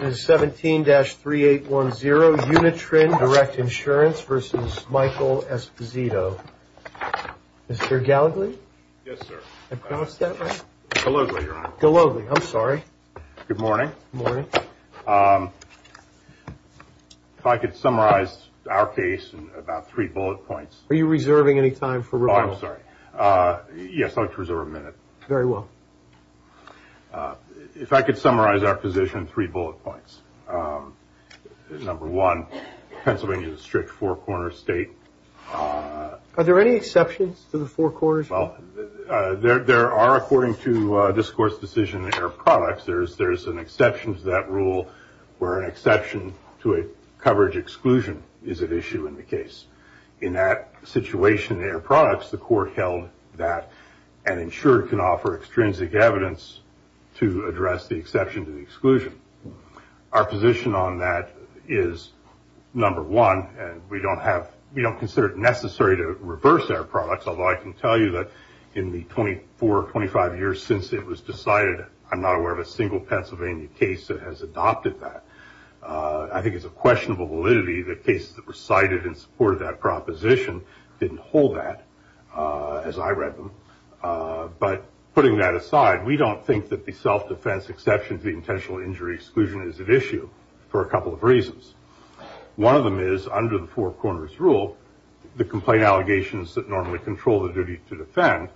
17-3810 Unitrin Direct Insurance v. Michael Esposito Mr. Gallagher? Yes, sir. I promised that, right? Gallagher, Your Honor. Gallagher, I'm sorry. Good morning. Good morning. If I could summarize our case in about three bullet points. Are you reserving any time for rebuttal? Oh, I'm sorry. Yes, I'd like to reserve a minute. Very well. If I could summarize our position in three bullet points. Number one, Pennsylvania is a strict four-corner state. Are there any exceptions to the four corners? Well, there are, according to discourse decision air products. There's an exception to that rule where an exception to a coverage exclusion is at issue in the case. In that situation in air products, the court held that an insured can offer extrinsic evidence to address the exception to the exclusion. Our position on that is, number one, we don't consider it necessary to reverse air products, although I can tell you that in the 24 or 25 years since it was decided, I'm not aware of a single Pennsylvania case that has adopted that. I think it's a questionable validity that cases that were cited in support of that proposition didn't hold that, as I read them. But putting that aside, we don't think that the self-defense exception to the intentional injury exclusion is at issue for a couple of reasons. One of them is, under the four corners rule, the complaint allegations that normally control the duty to defend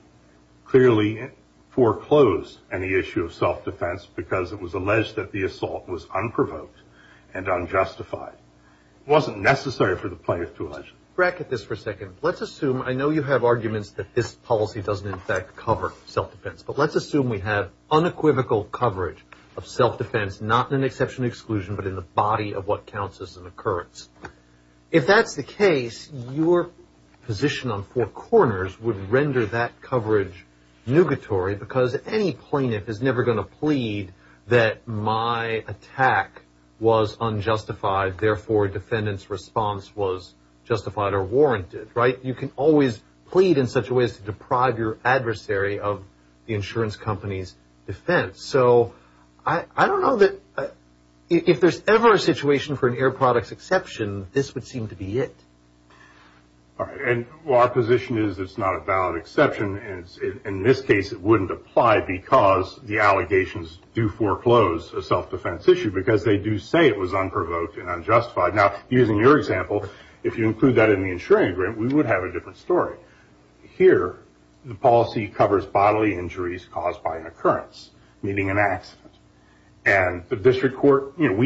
clearly foreclosed any issue of self-defense because it was alleged that the assault was unprovoked and unjustified wasn't necessary for the plaintiff to allege. Bracket this for a second. Let's assume, I know you have arguments that this policy doesn't in fact cover self-defense, but let's assume we have unequivocal coverage of self-defense, not in an exception exclusion, but in the body of what counts as an occurrence. If that's the case, your position on four corners would render that coverage nugatory because any plaintiff is never going to plead that my attack was unjustified, therefore defendant's response was justified or warranted, right? You can always plead in such a way as to deprive your adversary of the insurance company's defense. So I don't know that if there's ever a situation for an air products exception, this would seem to be it. Our position is it's not a valid exception. In this case, it wouldn't apply because the allegations do foreclose a self-defense issue because they do say it was unprovoked and unjustified. Now, using your example, if you include that in the insuring agreement, we would have a different story. Here, the policy covers bodily injuries caused by an occurrence, meaning an accident. We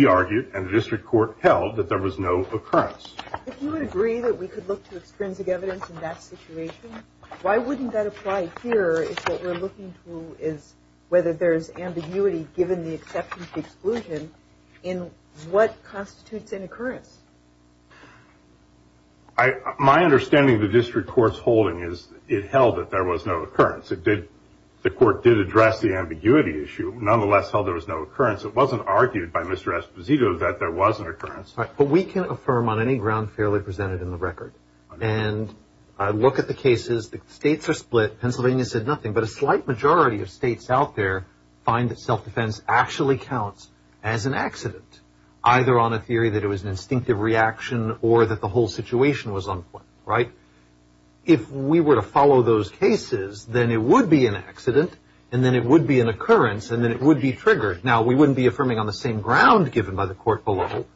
argued and the district court held that there was no occurrence. If you would agree that we could look to extrinsic evidence in that situation, why wouldn't that apply here if what we're looking to is whether there's ambiguity given the exception to exclusion in what constitutes an occurrence? My understanding of the district court's holding is it held that there was no occurrence. The court did address the ambiguity issue. Nonetheless, held there was no occurrence. It wasn't argued by Mr. Esposito that there was an occurrence. But we can affirm on any ground fairly presented in the record. And I look at the cases. The states are split. Pennsylvania said nothing. But a slight majority of states out there find that self-defense actually counts as an accident, either on a theory that it was an instinctive reaction or that the whole situation was unplanned, right? If we were to follow those cases, then it would be an accident, and then it would be an occurrence, and then it would be triggered. Now, we wouldn't be affirming on the same ground given by the court below.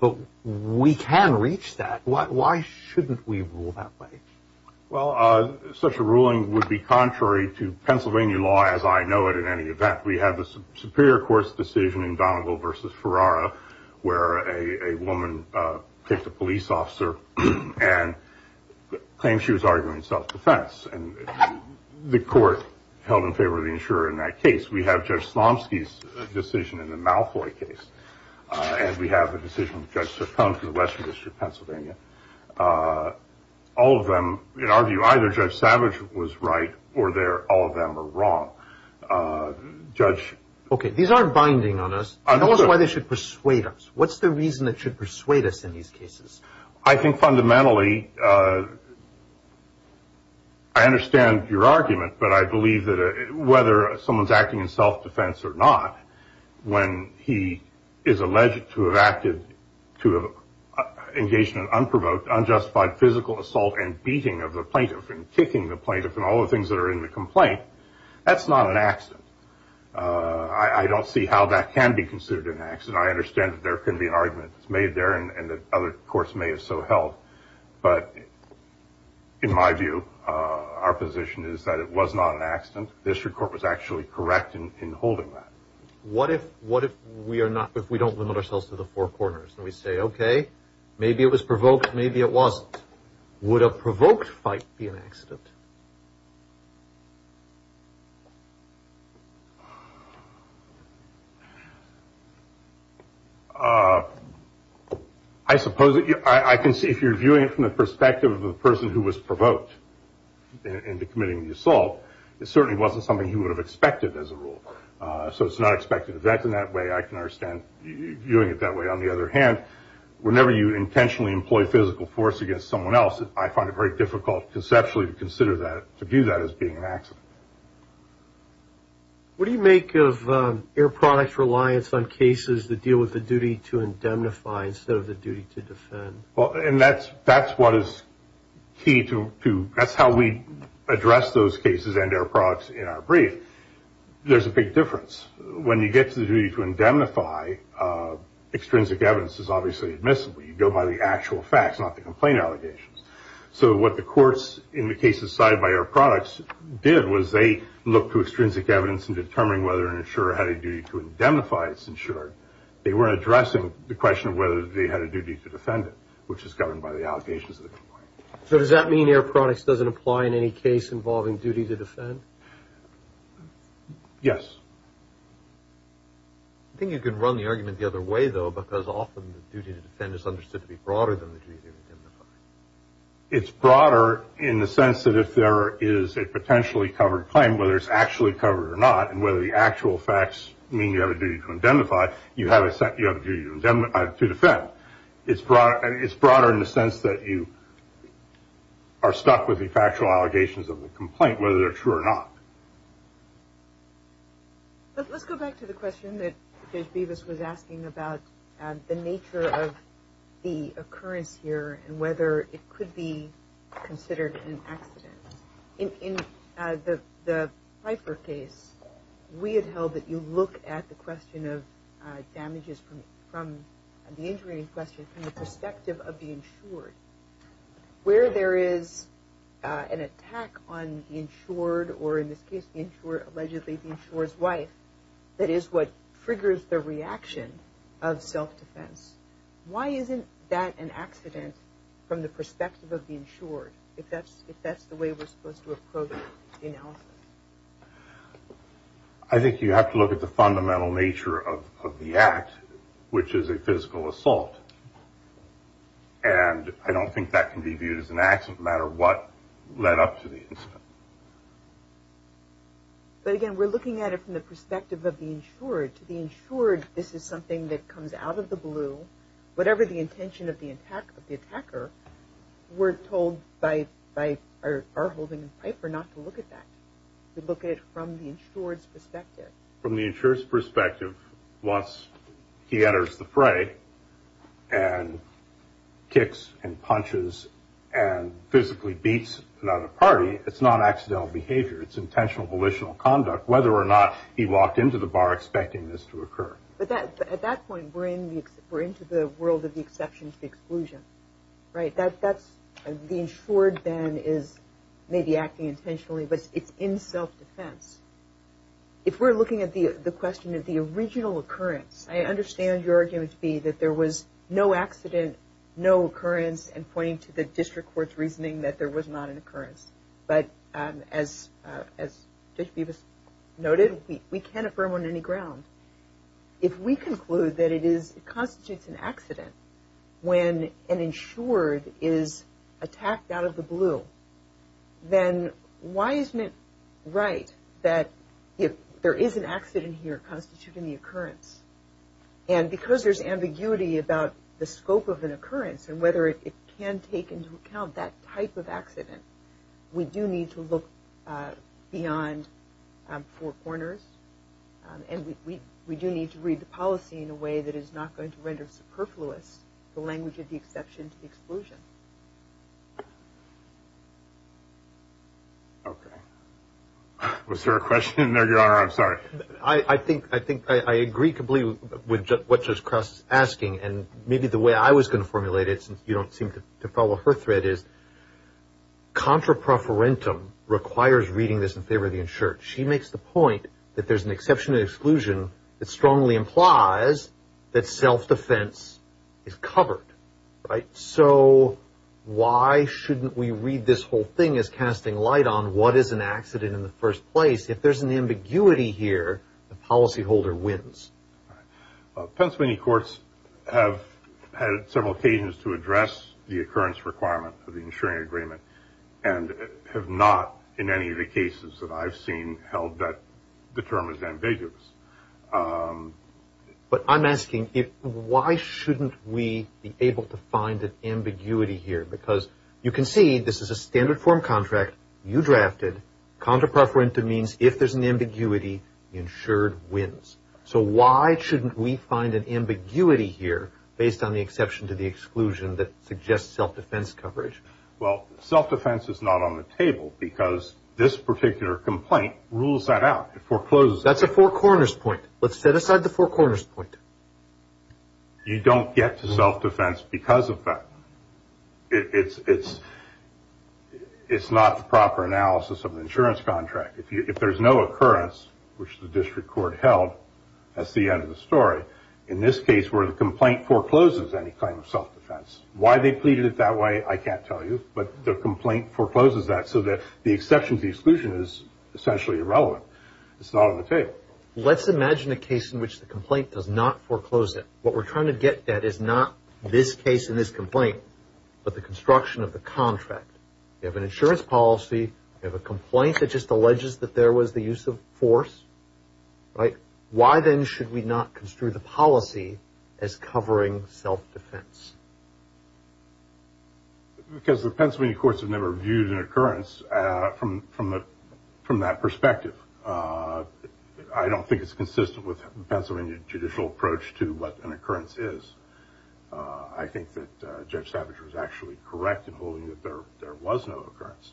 But we can reach that. Why shouldn't we rule that way? Well, such a ruling would be contrary to Pennsylvania law as I know it in any event. We have a superior court's decision in Donoville v. Ferrara where a woman picked a police officer and claimed she was arguing self-defense. And the court held in favor of the insurer in that case. We have Judge Slomsky's decision in the Malfoy case. And we have the decision of Judge Saffone from the Western District of Pennsylvania. All of them, in our view, either Judge Savage was right or all of them are wrong. Okay, these aren't binding on us. Tell us why they should persuade us. What's the reason it should persuade us in these cases? I think fundamentally I understand your argument, but I believe that whether someone's acting in self-defense or not, when he is alleged to have engaged in an unprovoked, unjustified physical assault and beating of the plaintiff and kicking the plaintiff and all the things that are in the complaint, that's not an accident. I don't see how that can be considered an accident. I understand that there can be an argument made there and that other courts may have so held. But in my view, our position is that it was not an accident. The district court was actually correct in holding that. What if we don't limit ourselves to the four corners and we say, okay, maybe it was provoked, maybe it wasn't? Would a provoked fight be an accident? I suppose I can see if you're viewing it from the perspective of the person who was provoked into committing the assault, it certainly wasn't something he would have expected as a rule. So it's not expected in that way. I can understand you viewing it that way. On the other hand, whenever you intentionally employ physical force against someone else, I find it very difficult conceptually to consider that, to view that as being an accident. What do you make of Air Products' reliance on cases that deal with the duty to indemnify instead of the duty to defend? That's how we address those cases and Air Products in our brief. There's a big difference. When you get to the duty to indemnify, extrinsic evidence is obviously admissible. You go by the actual facts, not the complaint allegations. So what the courts in the cases cited by Air Products did was they looked to extrinsic evidence in determining whether an insurer had a duty to indemnify its insurer. They weren't addressing the question of whether they had a duty to defend it, which is governed by the allegations of the complaint. So does that mean Air Products doesn't apply in any case involving duty to defend? Yes. I think you can run the argument the other way, though, because often the duty to defend is understood to be broader than the duty to indemnify. It's broader in the sense that if there is a potentially covered claim, whether it's actually covered or not, and whether the actual facts mean you have a duty to indemnify, you have a duty to defend. It's broader in the sense that you are stuck with the factual allegations of the complaint, whether they're true or not. Let's go back to the question that Judge Bevis was asking about the nature of the occurrence here and whether it could be considered an accident. In the Pfeiffer case, we had held that you look at the question of damages from the injury question from the perspective of the insured. Where there is an attack on the insured or, in this case, the insured, allegedly the insured's wife, that is what triggers the reaction of self-defense. Why isn't that an accident from the perspective of the insured, if that's the way we're supposed to approach the analysis? I think you have to look at the fundamental nature of the act, which is a physical assault. And I don't think that can be viewed as an accident, no matter what led up to the incident. But, again, we're looking at it from the perspective of the insured. To the insured, this is something that comes out of the blue. Whatever the intention of the attacker, we're told by our holding in Pfeiffer not to look at that. From the insured's perspective, once he enters the fray and kicks and punches and physically beats another party, it's not accidental behavior. It's intentional volitional conduct, whether or not he walked into the bar expecting this to occur. But at that point, we're into the world of the exception to the exclusion, right? That's the insured then is maybe acting intentionally, but it's in self-defense. If we're looking at the question of the original occurrence, I understand your argument to be that there was no accident, no occurrence, and pointing to the district court's reasoning that there was not an occurrence. But as Judge Bevis noted, we can't affirm on any ground. If we conclude that it constitutes an accident when an insured is attacked out of the blue, then why isn't it right that if there is an accident here, it constitutes an occurrence? And because there's ambiguity about the scope of an occurrence and whether it can take into account that type of accident, we do need to look beyond four corners. And we do need to read the policy in a way that is not going to render superfluous the language of the exception to the exclusion. Okay. Was there a question? No, Your Honor, I'm sorry. I think I agree completely with what Judge Cross is asking, and maybe the way I was going to formulate it, since you don't seem to follow her thread, is contrapreferentum requires reading this in favor of the insured. She makes the point that there's an exception to exclusion that strongly implies that self-defense is covered, right? So why shouldn't we read this whole thing as casting light on what is an accident in the first place? If there's an ambiguity here, the policyholder wins. Pennsylvania courts have had several occasions to address the occurrence requirement of the insuring agreement and have not in any of the cases that I've seen held that the term is ambiguous. But I'm asking why shouldn't we be able to find an ambiguity here? Because you can see this is a standard form contract you drafted. Contrapreferentum means if there's an ambiguity, the insured wins. So why shouldn't we find an ambiguity here based on the exception to the exclusion that suggests self-defense coverage? Well, self-defense is not on the table because this particular complaint rules that out. It forecloses that. That's a four corners point. Let's set aside the four corners point. You don't get to self-defense because of that. It's not the proper analysis of an insurance contract. If there's no occurrence, which the district court held, that's the end of the story. In this case, where the complaint forecloses any claim of self-defense, why they pleaded it that way I can't tell you, but the complaint forecloses that so that the exception to the exclusion is essentially irrelevant. It's not on the table. Let's imagine a case in which the complaint does not foreclose it. What we're trying to get at is not this case and this complaint, but the construction of the contract. You have an insurance policy. You have a complaint that just alleges that there was the use of force. Why then should we not construe the policy as covering self-defense? Because the Pennsylvania courts have never viewed an occurrence from that perspective. I don't think it's consistent with the Pennsylvania judicial approach to what an occurrence is. I think that Judge Savage was actually correct in holding that there was no occurrence.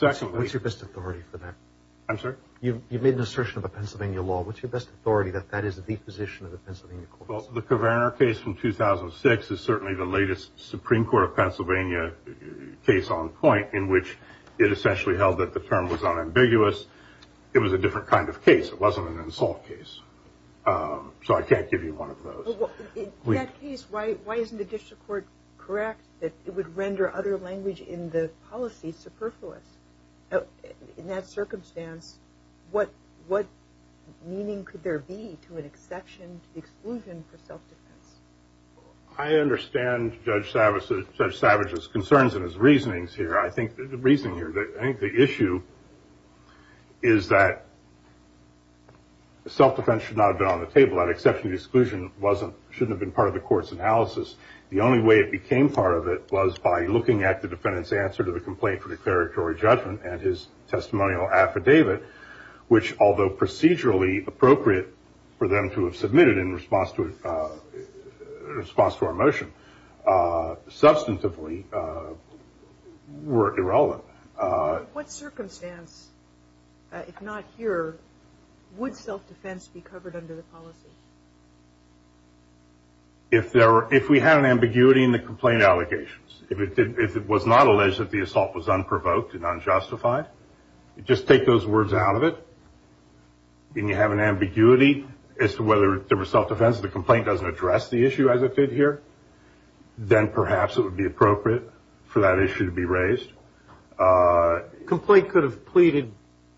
What's your best authority for that? I'm sorry? You've made an assertion of a Pennsylvania law. What's your best authority that that is the position of the Pennsylvania courts? Well, the Caverner case from 2006 is certainly the latest Supreme Court of Pennsylvania case on point in which it essentially held that the term was unambiguous. It was a different kind of case. It wasn't an assault case. So I can't give you one of those. In that case, why isn't the district court correct that it would render other language in the policy superfluous? In that circumstance, what meaning could there be to an exception to the exclusion for self-defense? I understand Judge Savage's concerns and his reasonings here. The reason here, I think the issue is that self-defense should not have been on the table. That exception to the exclusion shouldn't have been part of the court's analysis. The only way it became part of it was by looking at the defendant's answer to the complaint for declaratory judgment and his testimonial affidavit, which, although procedurally appropriate for them to have submitted in response to our motion, substantively were irrelevant. What circumstance, if not here, would self-defense be covered under the policy? If we had an ambiguity in the complaint allegations, if it was not alleged that the assault was unprovoked and unjustified, just take those words out of it, and you have an ambiguity as to whether there was self-defense, the complaint doesn't address the issue as it did here, then perhaps it would be appropriate for that issue to be raised. The complaint could have pleaded,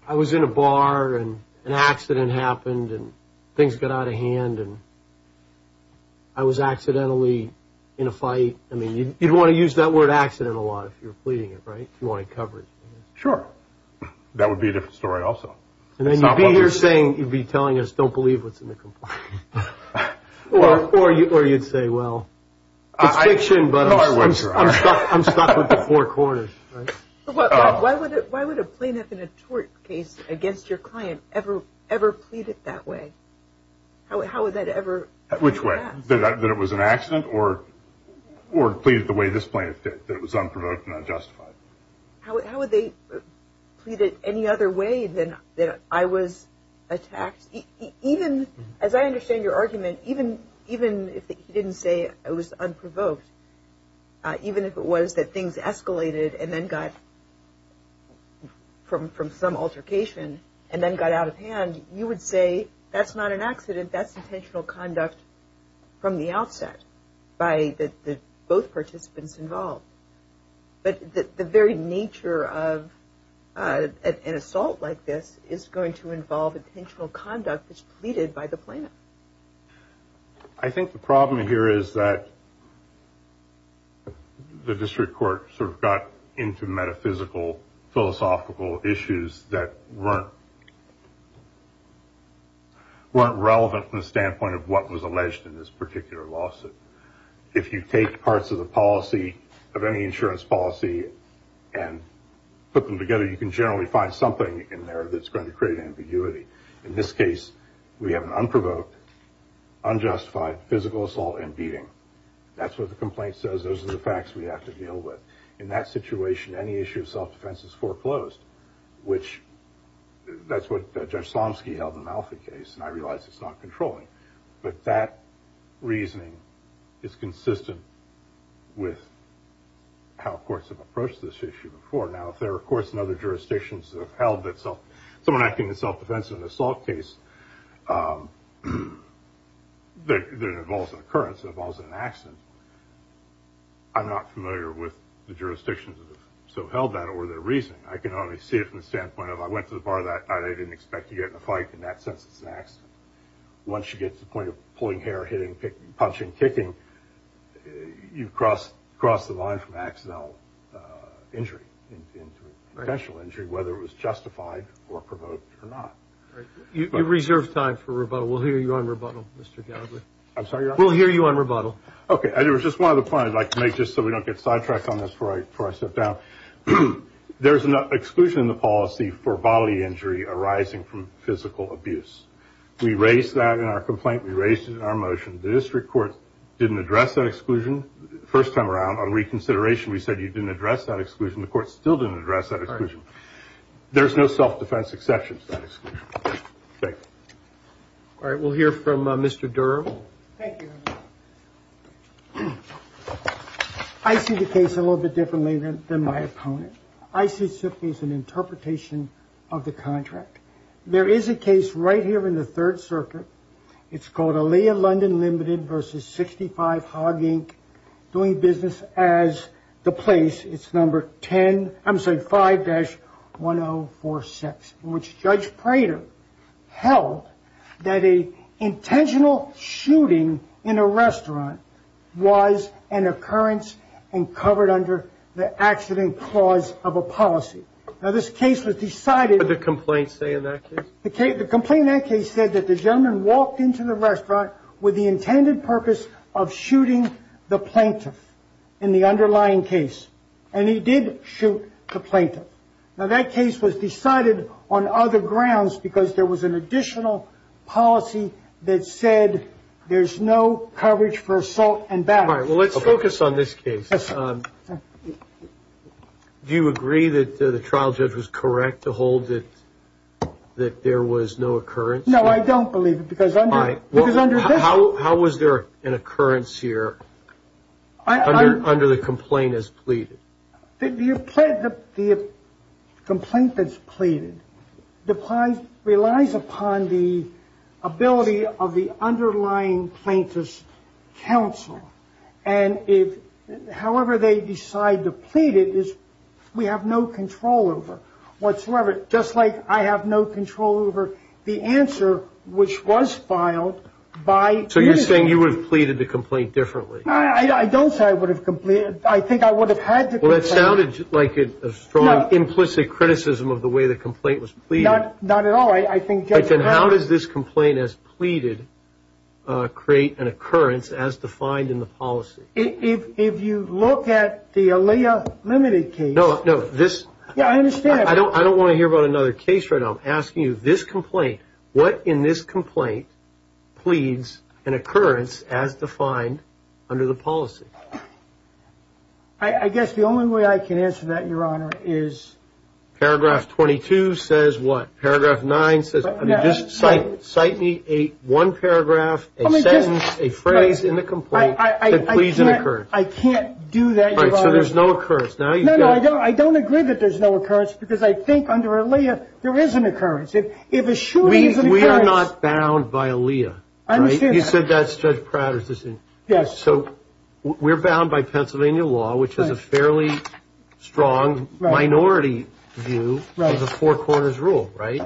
I was in a bar and an accident happened and things got out of hand and I was accidentally in a fight. I mean, you'd want to use that word accident a lot if you're pleading it, right? You want it covered. Sure. That would be a different story also. And then you'd be here saying, you'd be telling us, don't believe what's in the complaint. Or you'd say, well, it's fiction, but I'm stuck with the four corners. Why would a plaintiff in a tort case against your client ever plead it that way? How would that ever? Which way? That it was an accident or plead it the way this plaintiff did, that it was unprovoked and unjustified? How would they plead it any other way than I was attacked? Even, as I understand your argument, even if he didn't say it was unprovoked, even if it was that things escalated and then got from some altercation and then got out of hand, you would say that's not an accident, that's intentional conduct from the outset by both participants involved. But the very nature of an assault like this is going to involve intentional conduct that's pleaded by the plaintiff. I think the problem here is that the district court sort of got into metaphysical, philosophical issues that weren't relevant from the standpoint of what was alleged in this particular lawsuit. If you take parts of the policy, of any insurance policy, and put them together, you can generally find something in there that's going to create ambiguity. In this case, we have an unprovoked, unjustified physical assault and beating. That's what the complaint says. Those are the facts we have to deal with. In that situation, any issue of self-defense is foreclosed, which that's what Judge Slomski held in the Malfi case, and I realize it's not controlling, but that reasoning is consistent with how courts have approached this issue before. Now, if there are courts in other jurisdictions that have held that someone acting in self-defense in an assault case that involves an occurrence, involves an accident, I'm not familiar with the jurisdictions that have held that or their reasoning. I can only see it from the standpoint of I went to the bar that night, I didn't expect to get in a fight. In that sense, it's an accident. Once you get to the point of pulling hair, hitting, punching, kicking, you've crossed the line from accidental injury into potential injury, whether it was justified or provoked or not. You've reserved time for rebuttal. We'll hear you on rebuttal, Mr. Gallagher. I'm sorry? We'll hear you on rebuttal. Okay. Just one other point I'd like to make, just so we don't get sidetracked on this before I sit down. There's an exclusion in the policy for bodily injury arising from physical abuse. We raised that in our complaint. We raised it in our motion. The district court didn't address that exclusion. First time around, on reconsideration, we said you didn't address that exclusion. The court still didn't address that exclusion. There's no self-defense exception to that exclusion. Thank you. All right. We'll hear from Mr. Durham. Thank you. I see the case a little bit differently than my opponent. I see it simply as an interpretation of the contract. There is a case right here in the Third Circuit. It's called Aaliyah London Limited v. 65 Hogg Inc. doing business as the place, it's number 10, I'm sorry, 5-1046, in which Judge Prater held that an intentional shooting in a restaurant was an occurrence and covered under the accident clause of a policy. Now, this case was decided. What did the complaint say in that case? The complaint in that case said that the gentleman walked into the restaurant with the intended purpose of shooting the plaintiff in the underlying case. And he did shoot the plaintiff. Now, that case was decided on other grounds because there was an additional policy that said there's no coverage for assault and battery. All right. Well, let's focus on this case. Yes, sir. Do you agree that the trial judge was correct to hold that there was no occurrence? No, I don't believe it because under this- How was there an occurrence here under the complaint as pleaded? The complaint that's pleaded relies upon the ability of the underlying plaintiff's counsel. And however they decide to plead it, we have no control over whatsoever, just like I have no control over the answer which was filed by- So you're saying you would have pleaded the complaint differently? I don't say I would have- I think I would have had to- Well, that sounded like a strong implicit criticism of the way the complaint was pleaded. Not at all. How does this complaint as pleaded create an occurrence as defined in the policy? If you look at the Aaliyah Limited case- No, no, this- Yeah, I understand. I don't want to hear about another case right now. I'm asking you, this complaint, what in this complaint pleads an occurrence as defined under the policy? I guess the only way I can answer that, Your Honor, is- Paragraph 22 says what? Paragraph 9 says- Just cite me one paragraph, a sentence, a phrase in the complaint that pleads an occurrence. I can't do that, Your Honor. All right, so there's no occurrence. No, no, I don't agree that there's no occurrence because I think under Aaliyah there is an occurrence. If a shooting is an occurrence- We are not bound by Aaliyah, right? I understand that. You said that's Judge Prater's decision. Yes. So we're bound by Pennsylvania law, which has a fairly strong minority view of the Four Corners rule, right?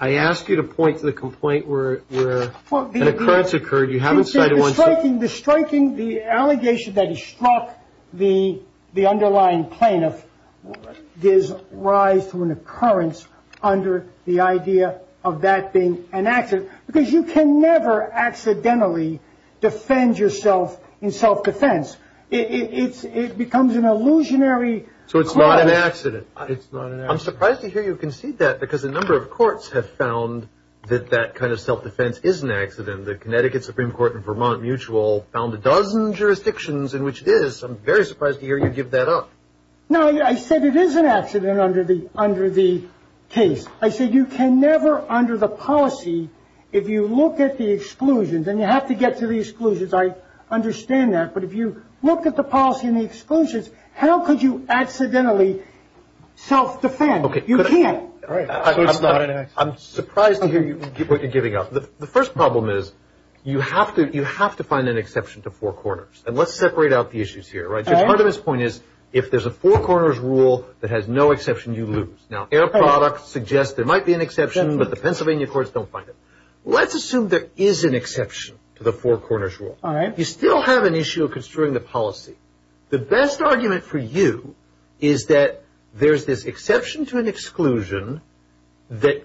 I ask you to point to the complaint where an occurrence occurred. The striking, the allegation that he struck the underlying plaintiff gives rise to an occurrence under the idea of that being an accident because you can never accidentally defend yourself in self-defense. It becomes an illusionary- So it's not an accident. It's not an accident. I'm surprised to hear you concede that because a number of courts have found that that kind of self-defense is an accident. The Connecticut Supreme Court and Vermont Mutual found a dozen jurisdictions in which it is. I'm very surprised to hear you give that up. No, I said it is an accident under the case. I said you can never under the policy, if you look at the exclusions, and you have to get to the exclusions. I understand that. But if you look at the policy and the exclusions, how could you accidentally self-defend? You can't. Right. So it's not an accident. I'm surprised to hear you giving up. The first problem is you have to find an exception to Four Corners. And let's separate out the issues here. Part of his point is if there's a Four Corners rule that has no exception, you lose. Now, Air Products suggests there might be an exception, but the Pennsylvania courts don't find it. Let's assume there is an exception to the Four Corners rule. You still have an issue of construing the policy. The best argument for you is that there's this exception to an exclusion that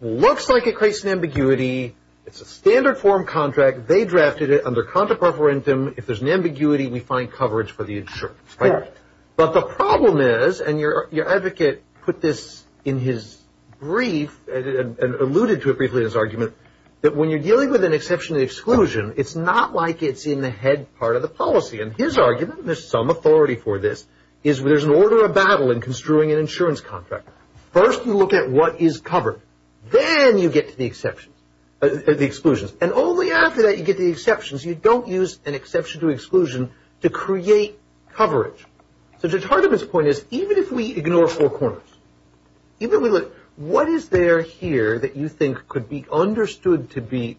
looks like it creates an ambiguity. It's a standard form contract. They drafted it under contra preferentum. If there's an ambiguity, we find coverage for the insurance. Right. But the problem is, and your advocate put this in his brief and alluded to it briefly in his argument, that when you're dealing with an exception to the exclusion, it's not like it's in the head part of the policy. And his argument, there's some authority for this, is there's an order of battle in construing an insurance contract. First you look at what is covered. Then you get to the exceptions, the exclusions. And only after that you get to the exceptions. You don't use an exception to exclusion to create coverage. So part of his point is, even if we ignore Four Corners, even if we look, what is there here that you think could be understood to be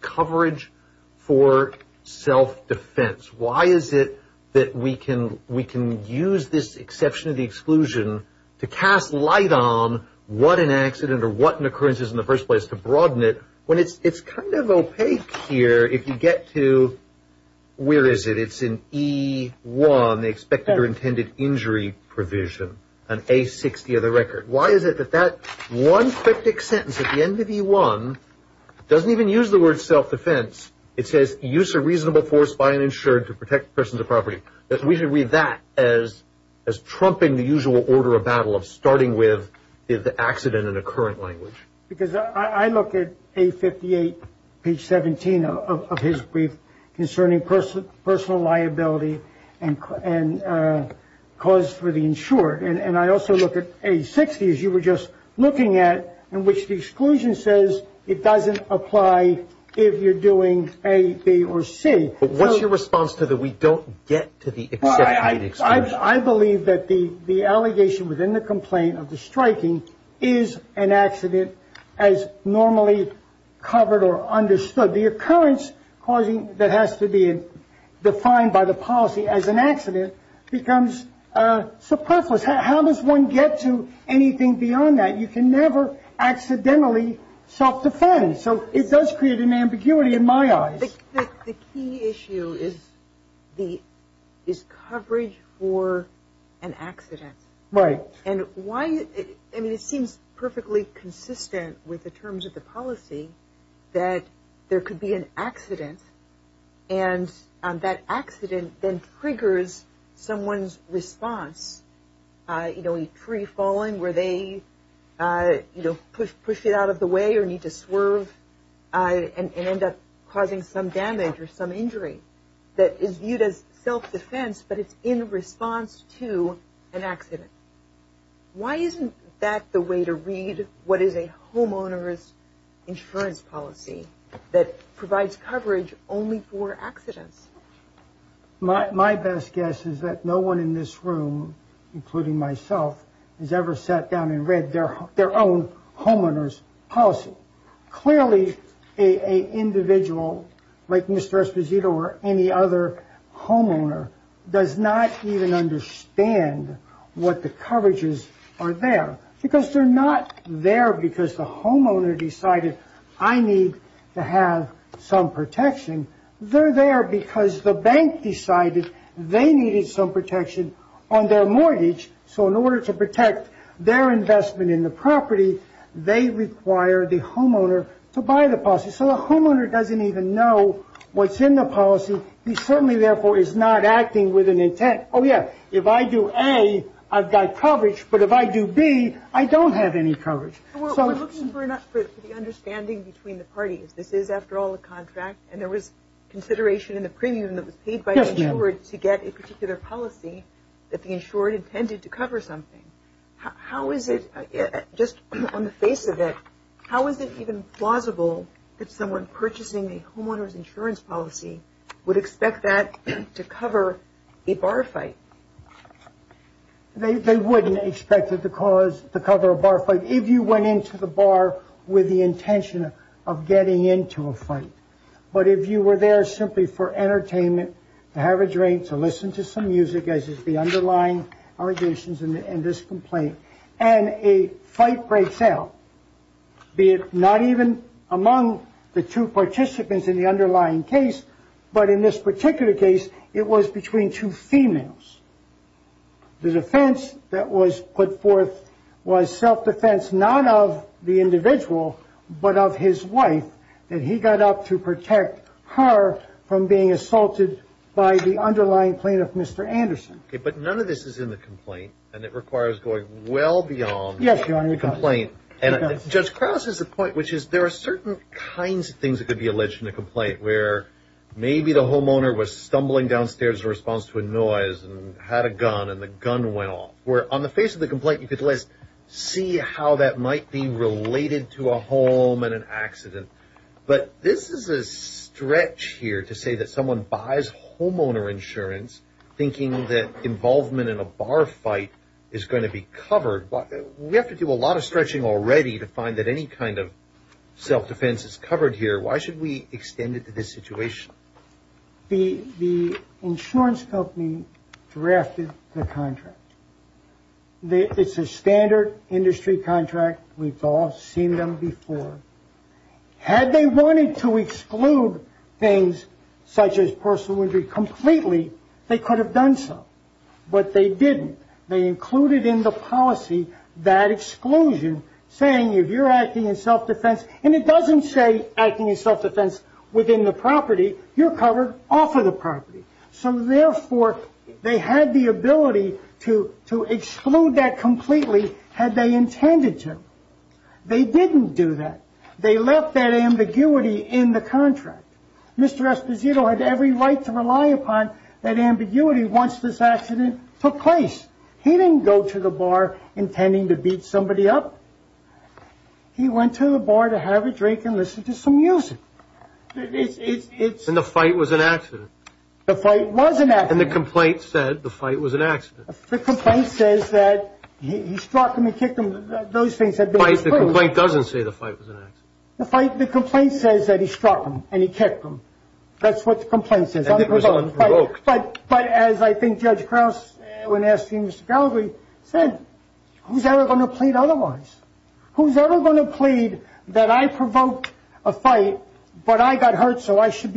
coverage for self-defense? Why is it that we can use this exception to exclusion to cast light on what an accident or what an occurrence is in the first place to broaden it when it's kind of opaque here if you get to, where is it? It's in E1, the expected or intended injury provision, on A60 of the record. Why is it that that one cryptic sentence at the end of E1 doesn't even use the word self-defense. It says, use a reasonable force by an insured to protect persons of property. We should read that as trumping the usual order of battle of starting with the accident in the current language. Because I look at A58, page 17 of his brief concerning personal liability and cause for the insured. And I also look at A60, as you were just looking at, in which the exclusion says it doesn't apply if you're doing A, B, or C. What's your response to the we don't get to the exception? I believe that the allegation within the complaint of the striking is an accident as normally covered or understood. The occurrence that has to be defined by the policy as an accident becomes superfluous. How does one get to anything beyond that? You can never accidentally self-defend. So it does create an ambiguity in my eyes. The key issue is coverage for an accident. Right. And it seems perfectly consistent with the terms of the policy that there could be an accident. And that accident then triggers someone's response. You know, a tree falling where they, you know, push it out of the way or need to swerve and end up causing some damage or some injury. That is viewed as self-defense, but it's in response to an accident. Why isn't that the way to read what is a homeowner's insurance policy that provides coverage only for accidents? My best guess is that no one in this room, including myself, has ever sat down and read their own homeowners policy. Clearly, a individual like Mr. Esposito or any other homeowner does not even understand what the coverages are there. Because they're not there because the homeowner decided I need to have some protection. They're there because the bank decided they needed some protection on their mortgage. So in order to protect their investment in the property, they require the homeowner to buy the policy. So the homeowner doesn't even know what's in the policy. He certainly, therefore, is not acting with an intent. Oh, yeah, if I do A, I've got coverage. But if I do B, I don't have any coverage. We're looking for the understanding between the parties. This is, after all, a contract, and there was consideration in the premium that was paid by the insured to get a particular policy that the insured intended to cover something. Just on the face of it, how is it even plausible that someone purchasing a homeowner's insurance policy would expect that to cover a bar fight? They wouldn't expect it to cover a bar fight. If you went into the bar with the intention of getting into a fight. But if you were there simply for entertainment, to have a drink, to listen to some music, as is the underlying allegations in this complaint, and a fight breaks out, be it not even among the two participants in the underlying case, but in this particular case, it was between two females. The defense that was put forth was self-defense, not of the individual, but of his wife, that he got up to protect her from being assaulted by the underlying plaintiff, Mr. Anderson. Okay, but none of this is in the complaint, and it requires going well beyond the complaint. Yes, Your Honor, it does. Judge Krauss has a point, which is there are certain kinds of things that could be alleged in a complaint where maybe the homeowner was stumbling downstairs in response to a noise and had a gun, and the gun went off, where on the face of the complaint, you could at least see how that might be related to a home and an accident. But this is a stretch here to say that someone buys homeowner insurance thinking that involvement in a bar fight is going to be covered. We have to do a lot of stretching already to find that any kind of self-defense is covered here. Why should we extend it to this situation? The insurance company drafted the contract. It's a standard industry contract. We've all seen them before. Had they wanted to exclude things such as personal injury completely, they could have done so. But they didn't. They included in the policy that exclusion, saying if you're acting in self-defense and it doesn't say acting in self-defense within the property, you're covered off of the property. So therefore, they had the ability to exclude that completely had they intended to. They didn't do that. They left that ambiguity in the contract. Mr. Esposito had every right to rely upon that ambiguity once this accident took place. He didn't go to the bar intending to beat somebody up. He went to the bar to have a drink and listen to some music. And the fight was an accident. The fight was an accident. And the complaint said the fight was an accident. The complaint says that he struck him and kicked him. The complaint doesn't say the fight was an accident. The complaint says that he struck him and he kicked him. That's what the complaint says. As I think Judge Krause, when asking Mr. Gallagher, said, who's ever going to plead otherwise? Who's ever going to plead that I provoked a fight, but I got hurt, so I should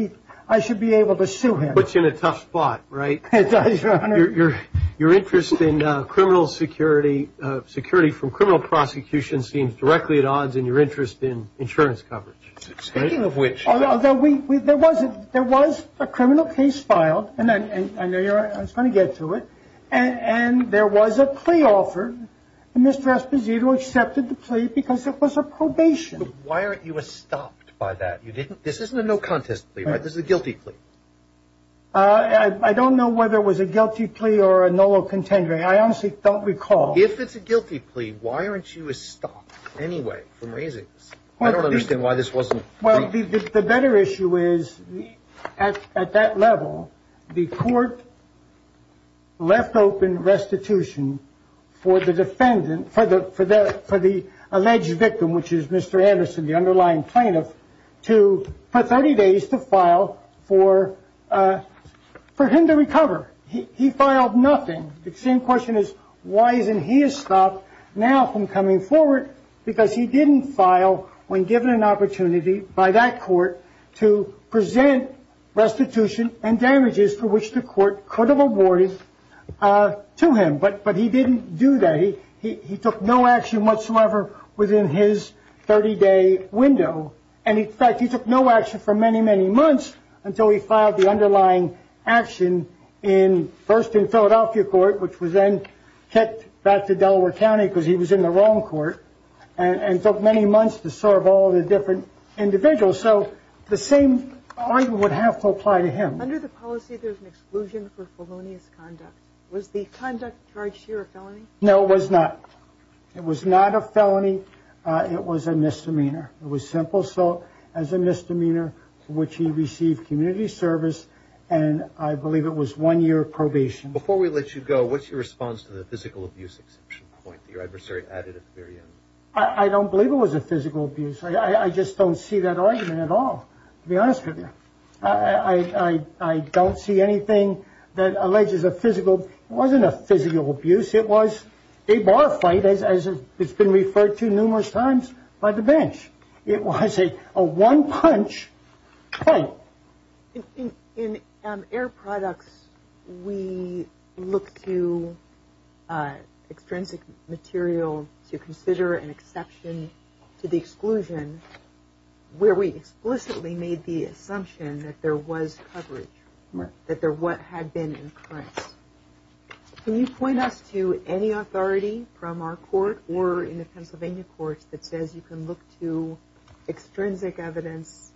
be able to sue him? Puts you in a tough spot, right? It does, Your Honor. Your interest in criminal security, security from criminal prosecution, seems directly at odds in your interest in insurance coverage. Speaking of which. Although there was a criminal case filed, and I know you're going to get to it, and there was a plea offered, and Mr. Esposito accepted the plea because it was a probation. Why aren't you stopped by that? This isn't a no-contest plea, right? This is a guilty plea. I don't know whether it was a guilty plea or a nolo contendering. I honestly don't recall. If it's a guilty plea, why aren't you stopped anyway from raising this? I don't understand why this wasn't raised. Well, the better issue is, at that level, the court left open restitution for the defendant, for the alleged victim, which is Mr. Anderson, the underlying plaintiff, for 30 days to file for him to recover. He filed nothing. The same question is, why isn't he stopped now from coming forward? Because he didn't file when given an opportunity by that court to present restitution and damages for which the court could have awarded to him. But he didn't do that. He took no action whatsoever within his 30-day window. And, in fact, he took no action for many, many months until he filed the underlying action first in Philadelphia court, which was then kicked back to Delaware County because he was in the wrong court, and took many months to serve all the different individuals. So the same argument would have to apply to him. Under the policy, there's an exclusion for felonious conduct. Was the conduct charged here a felony? No, it was not. It was not a felony. It was a misdemeanor. It was simple assault as a misdemeanor for which he received community service, and I believe it was one year probation. Before we let you go, what's your response to the physical abuse exception point that your adversary added at the very end? I don't believe it was a physical abuse. I just don't see that argument at all, to be honest with you. I don't see anything that alleges a physical. It wasn't a physical abuse. It was a bar fight, as it's been referred to numerous times by the bench. It was a one-punch fight. In air products, we look to extrinsic material to consider an exception to the exclusion where we explicitly made the assumption that there was coverage, that there had been an occurrence. Can you point us to any authority from our court or in the Pennsylvania courts that says you can look to extrinsic evidence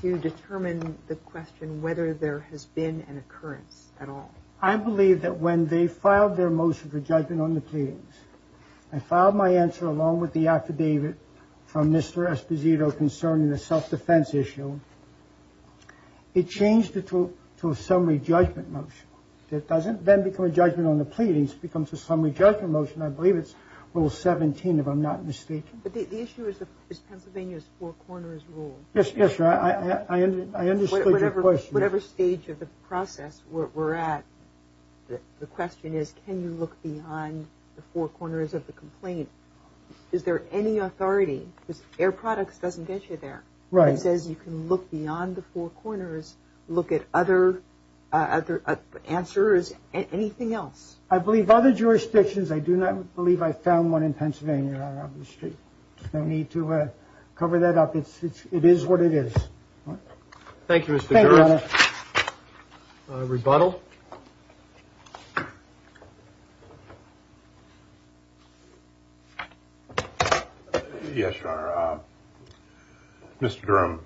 to determine the question whether there has been an occurrence at all? I believe that when they filed their motion for judgment on the pleadings, I filed my answer along with the affidavit from Mr. Esposito concerning the self-defense issue. It changed it to a summary judgment motion. It doesn't then become a judgment on the pleadings. It becomes a summary judgment motion. I believe it's Rule 17, if I'm not mistaken. The issue is Pennsylvania's four corners rule. Yes, I understood your question. Whatever stage of the process we're at, the question is, can you look beyond the four corners of the complaint? Is there any authority? Air products doesn't get you there. It says you can look beyond the four corners, look at other answers, anything else. I believe other jurisdictions. I do not believe I found one in Pennsylvania. I need to cover that up. It is what it is. Thank you. Rebuttal. Yes. Mr. Durham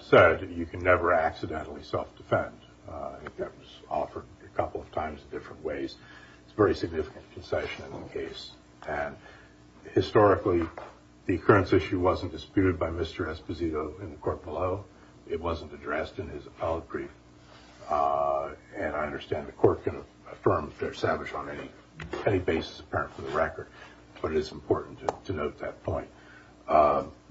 said you can never accidentally self-defend. That was offered a couple of times in different ways. It's a very significant concession in the case. Historically, the occurrence issue wasn't disputed by Mr. Esposito in the court below. It wasn't addressed in his appellate brief. And I understand the court can affirm they're savage on any basis apparent for the record. But it is important to note that point.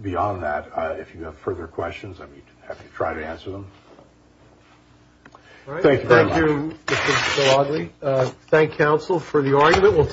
Beyond that, if you have further questions, I'd be happy to try to answer them. Thank you very much. Thank you, Mr. Szilagyi. Thank counsel for the argument.